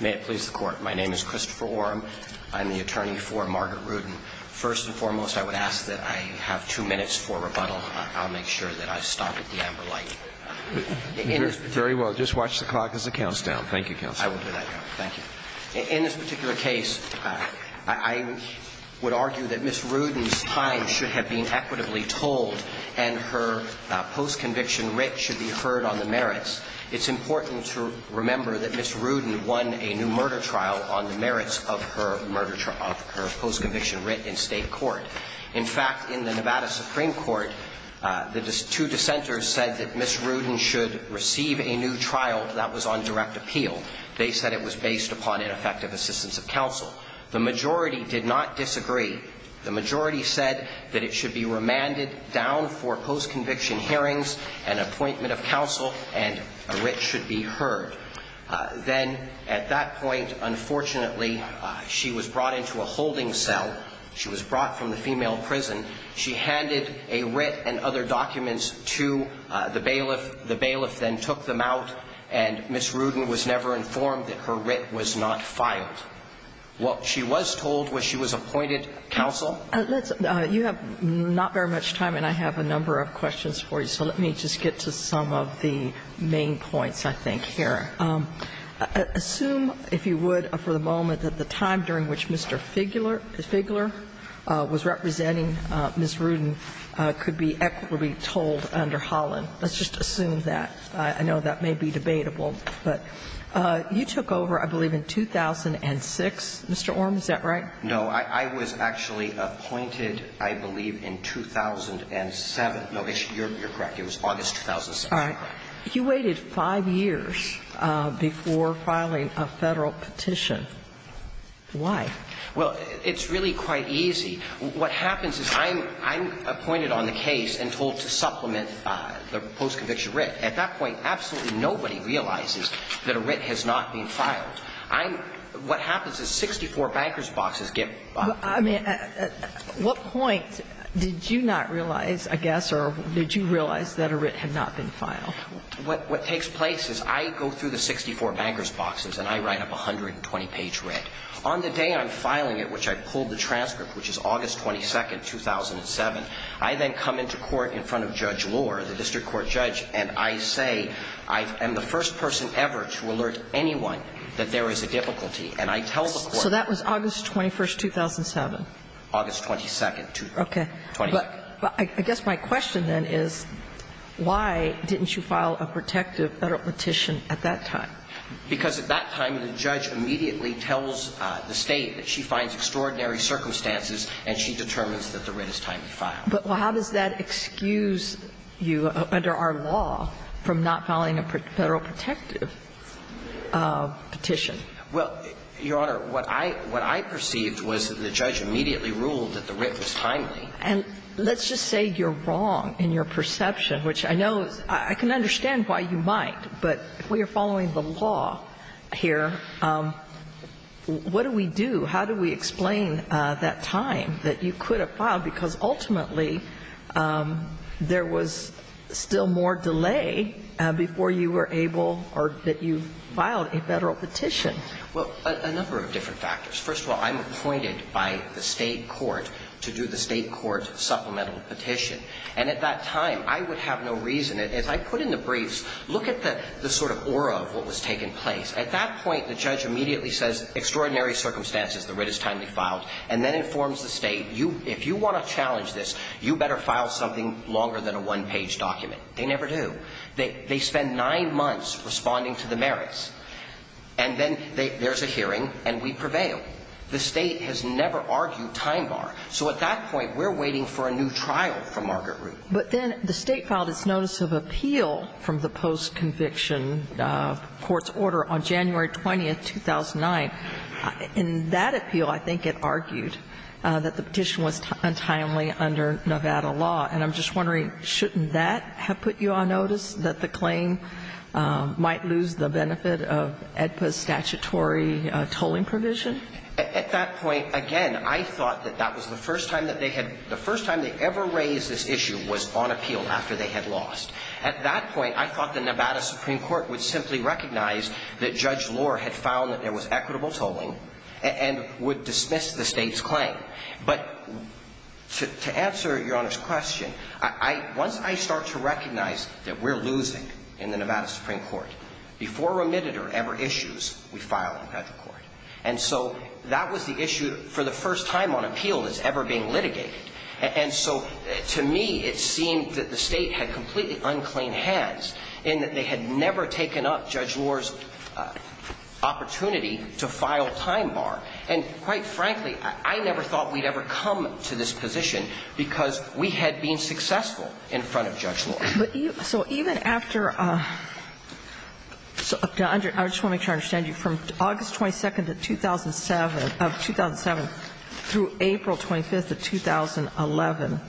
May it please the Court, my name is Christopher Oram. I'm the attorney for Margaret Rudin. First and foremost, I would ask that I have two minutes for rebuttal. I'll make sure that I've stopped at the amber light. Very well. Just watch the clock as it counts down. Thank you, Counselor. I will do that, Your Honor. Thank you. In this particular case, I would argue that Ms. Rudin's time should have been equitably told and her post-conviction writ should be heard on the merits. It's important to remember that Ms. Rudin won a new murder trial on the merits of her murder trial, of her post-conviction writ in state court. In fact, in the Nevada Supreme Court, the two dissenters said that Ms. Rudin should receive a new trial that was on direct appeal. They said it was based upon ineffective assistance of counsel. The majority did not disagree. The majority said that it should be remanded down for post-conviction hearings and appointment of counsel and a writ should be heard. Then, at that point, unfortunately, she was brought into a holding cell. She was brought from the female prison. She handed a writ and other documents to the bailiff. The bailiff then took them out and Ms. Rudin was never informed that her writ was not filed. What she was told was she was appointed counsel. You have not very much time, and I have a number of questions for you, so let me just get to some of the main points, I think, here. Assume, if you would, for the moment, that the time during which Mr. Figler was representing Ms. Rudin could be equitably told under Holland. Let's just assume that. I know that may be debatable, but you took over, I believe, in 2006, Mr. Orme, is that right? No, I was actually appointed, I believe, in 2007. No, you're correct. It was August 2006. All right. You waited five years before filing a Federal petition. Why? Well, it's really quite easy. What happens is I'm appointed on the case and told to supplement the post-conviction writ. At that point, absolutely nobody realizes that a writ has not been filed. I'm – what happens is 64 bankers' boxes get – I mean, at what point did you not realize, I guess, or did you realize that a writ had not been filed? What takes place is I go through the 64 bankers' boxes and I write up a 120-page writ. On the day I'm filing it, which I pulled the transcript, which is August 22, 2007, I then come into court in front of Judge Lohr, the district court judge, and I say I am the first person ever to alert anyone that there is a difficulty, and I tell the court that – So that was August 21, 2007? August 22, 2007. Okay. But I guess my question then is why didn't you file a protective Federal petition at that time? Because at that time, the judge immediately tells the State that she finds extraordinary circumstances and she determines that the writ is timely to file. But how does that excuse you under our law from not filing a Federal protective petition? Well, Your Honor, what I – what I perceived was that the judge immediately ruled that the writ was timely. And let's just say you're wrong in your perception, which I know is – I can understand why you might, but if we are following the law here, what do we do? How do we explain that time that you could have filed? Because ultimately, there was still more delay before you were able or that you filed a Federal petition. Well, a number of different factors. First of all, I'm appointed by the State court to do the State court supplemental petition. And at that time, I would have no reason – as I put in the briefs, look at the sort of aura of what was taking place. At that point, the judge immediately says, extraordinary circumstances, the writ is timely filed, and then informs the State, if you want to challenge this, you better file something longer than a one-page document. They never do. They spend nine months responding to the merits. And then there's a hearing, and we prevail. The State has never argued time bar. So at that point, we're waiting for a new trial from Margaret Root. But then the State filed its notice of appeal from the post-conviction court's order on January 20th, 2009. In that appeal, I think it argued that the petition was untimely under Nevada law. And I'm just wondering, shouldn't that have put you on notice that the claim might lose the benefit of EDPA's statutory tolling provision? At that point, again, I thought that that was the first time that they had – the first time they ever raised this issue was on appeal after they had lost. At that point, I thought the Nevada Supreme Court would simply recognize that Judge Lohr had found that there was equitable tolling and would dismiss the State's claim. But to answer Your Honor's question, I – once I start to recognize that we're losing in the Nevada Supreme Court, before remitted or ever issues, we file it in federal court. And so that was the issue for the first time on appeal that's ever being litigated. And so to me, it seemed that the State had completely unclean hands in that they had never taken up Judge Lohr's opportunity to file time bar. And quite frankly, I never thought we'd ever come to this position because we had been successful in front of Judge Lohr. So even after – I just want to make sure I understand you. From August 22nd of 2007 through April 25th of 2011,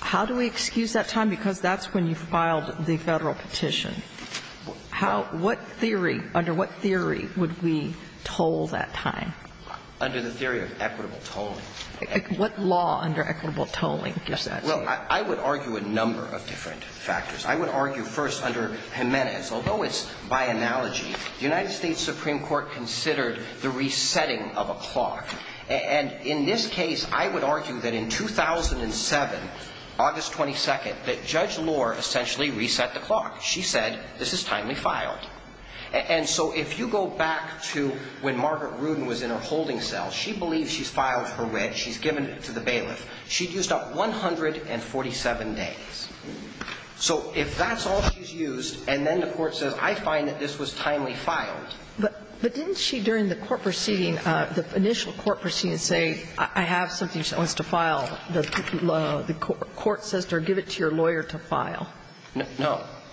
how do we excuse that time? Because that's when you filed the Federal petition. How – what theory – under what theory would we toll that time? Under the theory of equitable tolling. What law under equitable tolling does that say? Well, I would argue a number of different factors. I would argue first under Jimenez, although it's by analogy, the United States Supreme Court considered the resetting of a clock. And in this case, I would argue that in 2007, August 22nd, that Judge Lohr essentially reset the clock. She said, this is timely filed. And so if you go back to when Margaret Rudin was in her holding cell, she believes she's filed her wedge. She's given it to the bailiff. She used up 147 days. So if that's all she's used, and then the court says, I find that this was timely filed. But didn't she, during the court proceeding, the initial court proceeding, say, I have something she wants to file. No.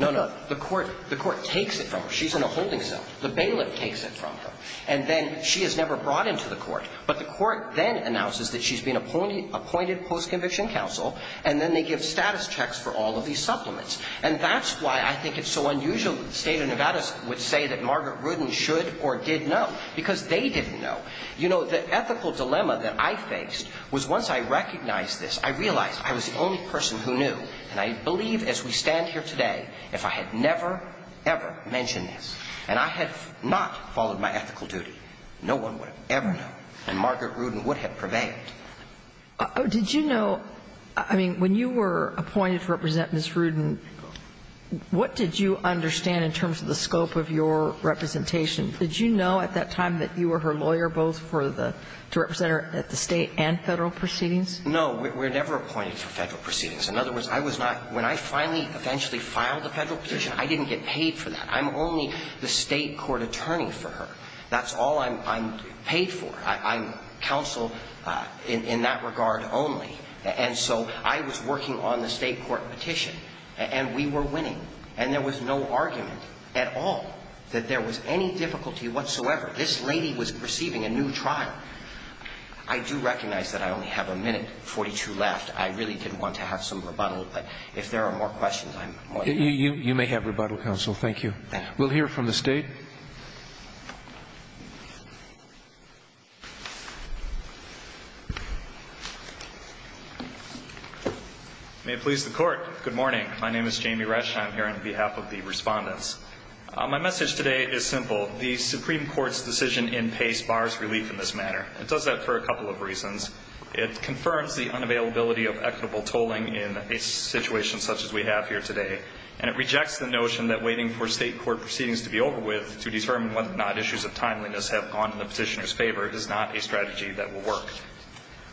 No, no. The court takes it from her. She's in a holding cell. The bailiff takes it from her. And then she is never brought into the court. But the court then announces that she's been appointed post-conviction counsel, and then they give status checks for all of these supplements. And that's why I think it's so unusual that the state of Nevada would say that Margaret Rudin should or did know, because they didn't know. You know, the ethical dilemma that I faced was once I recognized this, I realized I was the only person who knew. And I believe as we stand here today, if I had never, ever mentioned this, and I had not followed my ethical duty, no one would have ever known. And Margaret Rudin would have prevailed. Did you know – I mean, when you were appointed to represent Ms. Rudin, what did you understand in terms of the scope of your representation? Did you know at that time that you were her lawyer, both for the – to represent her at the state and Federal proceedings? No. We were never appointed for Federal proceedings. In other words, I was not – when I finally, eventually filed a Federal petition, I didn't get paid for that. I'm only the state court attorney for her. That's all I'm paid for. I'm counsel in that regard only. And so I was working on the state court petition, and we were winning. And there was no argument at all that there was any difficulty whatsoever. This lady was receiving a new trial. I do recognize that I only have a minute, 42, left. I really didn't want to have some rebuttal, but if there are more questions, I'm more than happy. You may have rebuttal, counsel. Thank you. We'll hear from the state. May it please the Court. Good morning. My name is Jamie Resch, and I'm here on behalf of the Respondents. My message today is simple. The Supreme Court's decision in Pace bars relief in this matter. It does that for a couple of reasons. It confirms the unavailability of equitable tolling in a situation such as we have here today. And it rejects the notion that waiting for state court proceedings to be over with to determine whether or not issues of timeliness have gone in the petitioner's favor is not a strategy that will work.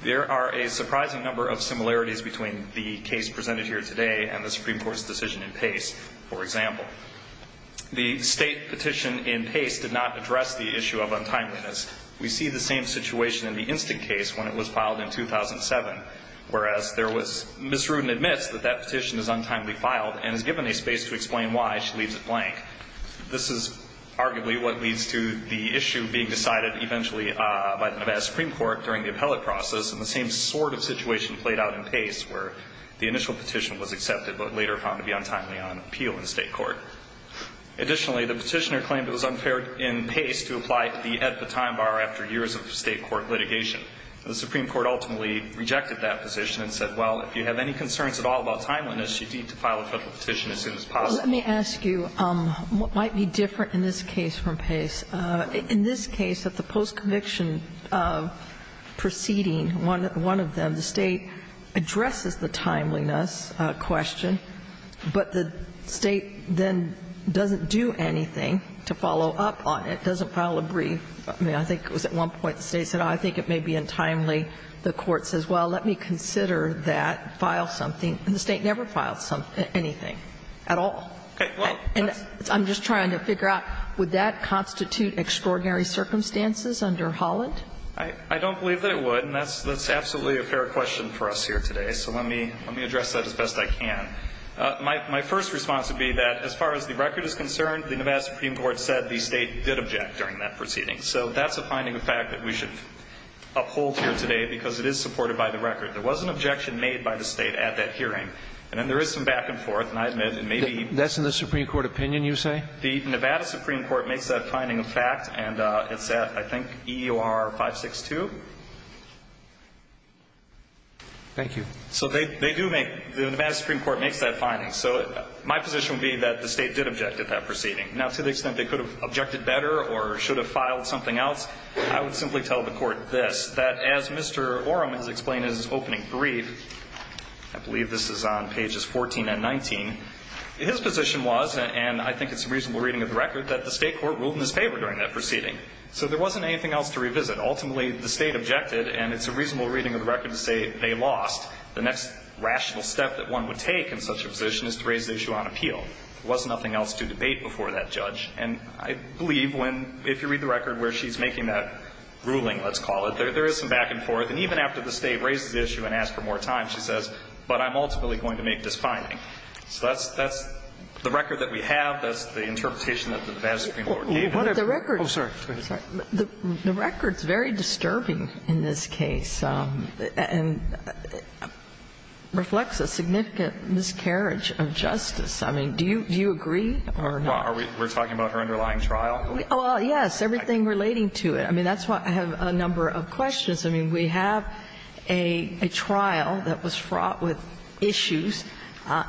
There are a surprising number of similarities between the case presented here today and the Supreme Court's decision in Pace, for example. The state petition in Pace did not address the issue of untimeliness. We see the same situation in the instant case when it was filed in 2007, whereas there was misrude and admits that that petition is untimely filed and is given a space to explain why she leaves it blank. This is arguably what leads to the issue being decided eventually by the Nevada Supreme Court during the appellate process, and the same sort of situation played out in Pace, where the initial petition was accepted but later found to be untimely on appeal in state court. Additionally, the petitioner claimed it was unfair in Pace to apply to the AEDPA time bar after years of state court litigation. The Supreme Court ultimately rejected that position and said, well, if you have any concerns at all about timeliness, you need to file a Federal petition as soon as possible. Let me ask you what might be different in this case from Pace. In this case, at the post-conviction proceeding, one of them, the state addresses the timeliness question, but the State then doesn't do anything to follow up on it, doesn't file a brief. I mean, I think it was at one point the State said, oh, I think it may be untimely. The Court says, well, let me consider that, file something, and the State never filed anything at all. And I'm just trying to figure out, would that constitute extraordinary circumstances under Holland? I don't believe that it would, and that's absolutely a fair question for us here today, so let me address that as best I can. My first response would be that as far as the record is concerned, the Nevada Supreme Court said the State did object during that proceeding. So that's a finding of fact that we should uphold here today because it is supported by the record. There was an objection made by the State at that hearing, and then there is some back and forth, and I admit it may be even more. That's in the Supreme Court opinion, you say? The Nevada Supreme Court makes that finding of fact, and it's at, I think, EOR 562. Thank you. So they do make, the Nevada Supreme Court makes that finding. So my position would be that the State did object at that proceeding. Now, to the extent they could have objected better or should have filed something else, I would simply tell the Court this, that as Mr. Orem has explained in his opening brief, I believe this is on pages 14 and 19, his position was, and I think it's a reasonable reading of the record, that the State court ruled in his favor during that proceeding. So there wasn't anything else to revisit. Ultimately, the State objected, and it's a reasonable reading of the record to say they lost. The next rational step that one would take in such a position is to raise the issue on appeal. There was nothing else to debate before that judge. And I believe when, if you read the record where she's making that ruling, let's call it, there is some back and forth. And even after the State raises the issue and asks for more time, she says, but I'm ultimately going to make this finding. So that's the record that we have. That's the interpretation that the Nevada Supreme Court gave. The record is very disturbing in this case and reflects a significant miscarriage of justice. I mean, do you agree or not? Are we talking about her underlying trial? Well, yes, everything relating to it. I mean, that's why I have a number of questions. I mean, we have a trial that was fraught with issues.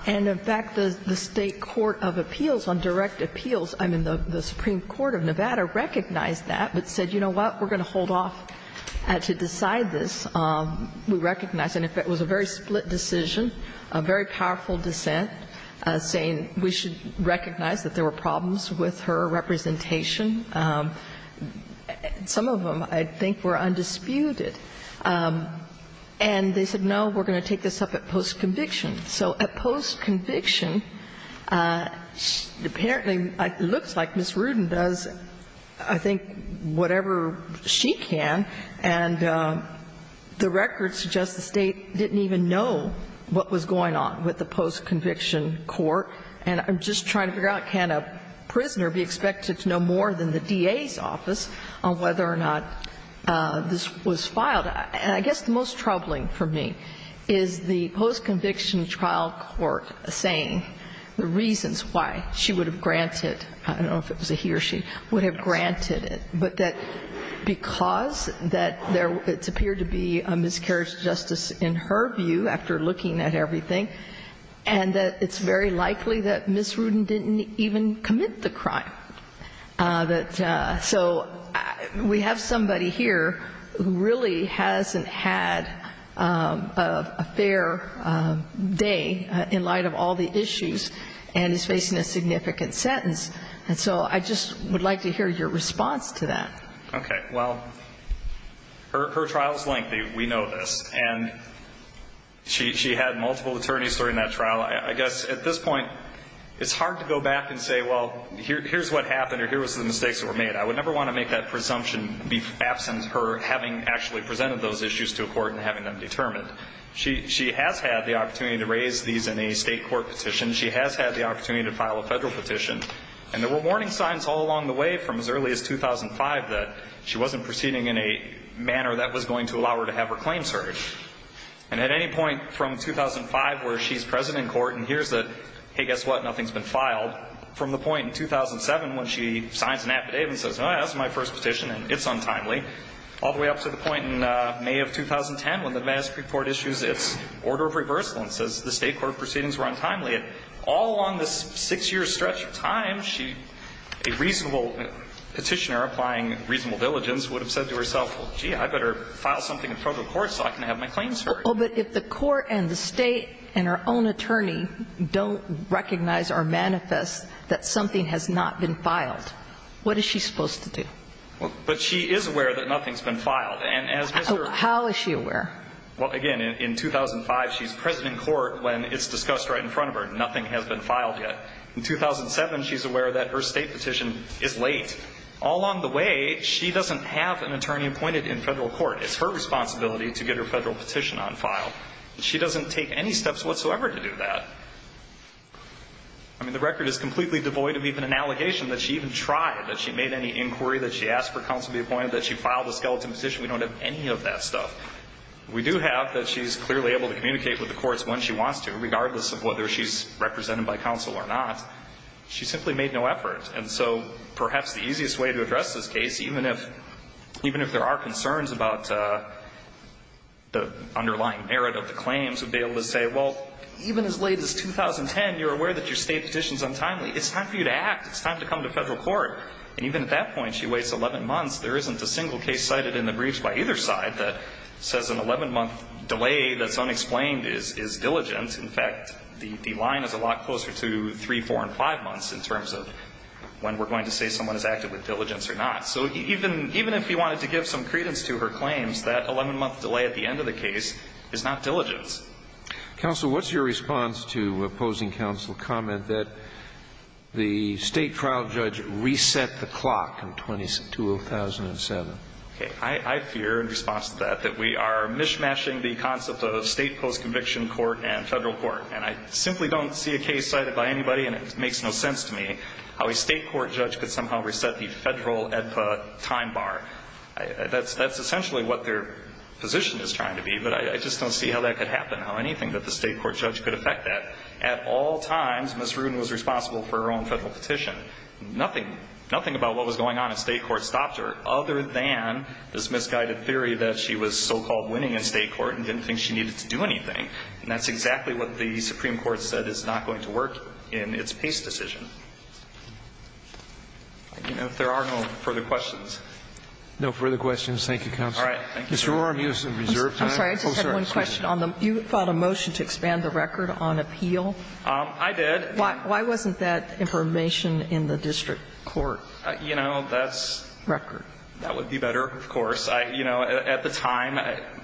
And, in fact, the State court of appeals on direct appeals, I mean, the Supreme Court of Nevada recognized that but said, you know what, we're going to hold off to decide this. We recognized. And, in fact, it was a very split decision, a very powerful dissent, saying we should recognize that there were problems with her representation. Some of them, I think, were undisputed. And they said, no, we're going to take this up at post-conviction. So at post-conviction, apparently it looks like Ms. Rudin does, I think, whatever she can, and the record suggests the State didn't even know what was going on with the post-conviction court. And I'm just trying to figure out, can a prisoner be expected to know more than the DA's office on whether or not this was filed? And I guess the most troubling for me is the post-conviction trial court saying the reasons why she would have granted, I don't know if it was a he or she, would have granted it. But that because that it's appeared to be a miscarriage of justice in her view, after looking at everything, and that it's very likely that Ms. Rudin didn't even commit the crime. So we have somebody here who really hasn't had a fair day in light of all the issues and is facing a significant sentence. And so I just would like to hear your response to that. Okay. Well, her trial is lengthy. We know this. And she had multiple attorneys during that trial. I guess at this point, it's hard to go back and say, well, here's what happened or here was the mistakes that were made. I would never want to make that presumption be absent her having actually presented those issues to a court and having them determined. She has had the opportunity to raise these in a state court petition. She has had the opportunity to file a federal petition. And there were warning signs all along the way from as early as 2005 that she wasn't proceeding in a manner that was going to allow her to have her claims heard. And at any point from 2005 where she's present in court and hears that, hey, guess what, nothing's been filed, from the point in 2007 when she signs an affidavit and says, oh, that's my first petition and it's untimely, all the way up to the point in May of 2010 when the Madison Court issues its order of reversal and says the state court proceedings were untimely. All along this six-year stretch of time, a reasonable petitioner applying reasonable diligence would have said to herself, well, gee, I better file something in front of the court and have my claims heard. But if the court and the state and her own attorney don't recognize or manifest that something has not been filed, what is she supposed to do? But she is aware that nothing's been filed. How is she aware? Well, again, in 2005, she's present in court when it's discussed right in front of her. Nothing has been filed yet. In 2007, she's aware that her state petition is late. All along the way, she doesn't have an attorney appointed in federal court. It's her responsibility to get her federal petition on file. She doesn't take any steps whatsoever to do that. I mean, the record is completely devoid of even an allegation that she even tried, that she made any inquiry, that she asked for counsel to be appointed, that she filed a skeleton petition. We don't have any of that stuff. We do have that she's clearly able to communicate with the courts when she wants to, regardless of whether she's represented by counsel or not. She simply made no effort. And so perhaps the easiest way to address this case, even if there are concerns about the underlying merit of the claims, would be able to say, well, even as late as 2010, you're aware that your state petition's untimely. It's time for you to act. It's time to come to federal court. And even at that point, she waits 11 months. There isn't a single case cited in the briefs by either side that says an 11-month delay that's unexplained is diligent. In fact, the line is a lot closer to three, four, and five months in terms of when we're going to say someone has acted with diligence or not. So even if he wanted to give some credence to her claims, that 11-month delay at the end of the case is not diligence. Counsel, what's your response to opposing counsel's comment that the state trial judge reset the clock in 2007? Okay. I fear in response to that that we are mishmashing the concept of state post-conviction court and federal court. And I simply don't see a case cited by anybody, and it makes no sense to me how a state court judge could somehow reset the federal EDPA time bar. That's essentially what their position is trying to be. But I just don't see how that could happen, how anything that the state court judge could affect that. At all times, Ms. Rudin was responsible for her own federal petition. Nothing about what was going on at state court stopped her other than this misguided theory that she was so-called winning in state court and didn't think she needed to do anything. And that's exactly what the Supreme Court said is not going to work in its pace with this decision. I don't know if there are no further questions. No further questions. Thank you, counsel. All right. Thank you, Your Honor. Mr. O'Rourke, you have some reserve time. I'm sorry. I just had one question. You filed a motion to expand the record on appeal? I did. Why wasn't that information in the district court? You know, that's record. That would be better, of course. You know, at the time,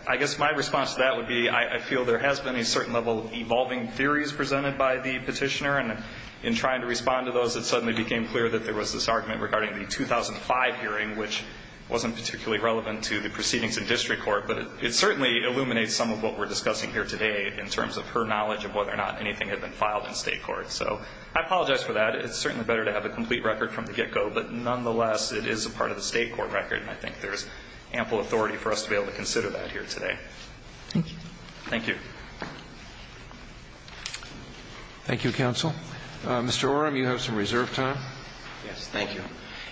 I guess my response to that would be I feel there has been a certain level of evolving theories presented by the petitioner. And in trying to respond to those, it suddenly became clear that there was this argument regarding the 2005 hearing, which wasn't particularly relevant to the proceedings in district court. But it certainly illuminates some of what we're discussing here today in terms of her knowledge of whether or not anything had been filed in state court. So I apologize for that. It's certainly better to have a complete record from the get-go. But nonetheless, it is a part of the state court record, and I think there's ample authority for us to be able to consider that here today. Thank you. Thank you. Thank you, counsel. Mr. Orem, you have some reserved time. Yes. Thank you.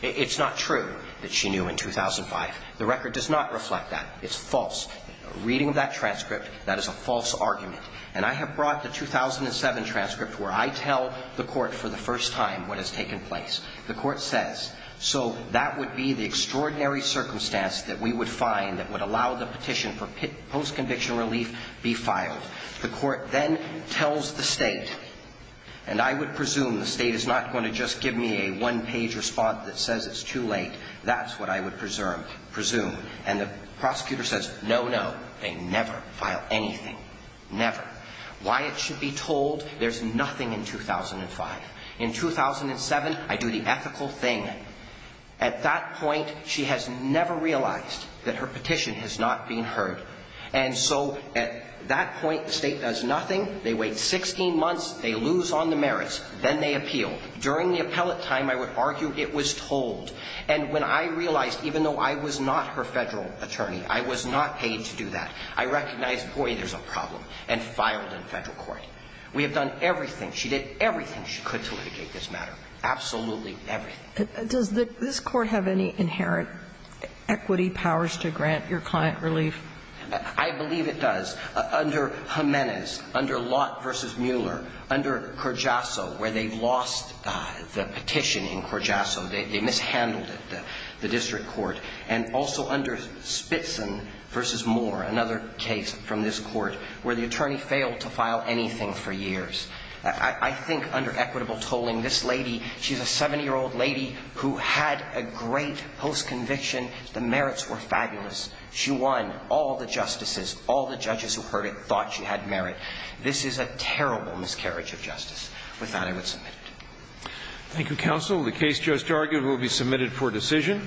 It's not true that she knew in 2005. The record does not reflect that. It's false. A reading of that transcript, that is a false argument. And I have brought the 2007 transcript where I tell the Court for the first time what has taken place. The Court says, so that would be the extraordinary circumstance that we would find that would allow the petition for post-conviction relief be filed. The Court then tells the State, and I would presume the State is not going to just give me a one-page response that says it's too late. That's what I would presume. And the prosecutor says, no, no, they never file anything, never. Why it should be told, there's nothing in 2005. In 2007, I do the ethical thing. At that point, she has never realized that her petition has not been heard. And so at that point, the State does nothing. They wait 16 months. They lose on the merits. Then they appeal. During the appellate time, I would argue it was told. And when I realized, even though I was not her federal attorney, I was not paid to do that, I recognized, boy, there's a problem, and filed in federal court. We have done everything, she did everything she could to litigate this matter, absolutely everything. Does this Court have any inherent equity powers to grant your client relief? I believe it does. Under Jimenez, under Lott v. Mueller, under Corgiasso, where they lost the petition in Corgiasso, they mishandled it, the district court. And also under Spitson v. Moore, another case from this Court, where the attorney failed to file anything for years. I think under equitable tolling, this lady, she's a 70-year-old lady who had a great post-conviction. The merits were fabulous. She won. All the justices, all the judges who heard it thought she had merit. This is a terrible miscarriage of justice. With that, I would submit it. Thank you, counsel. The case just argued will be submitted for decision.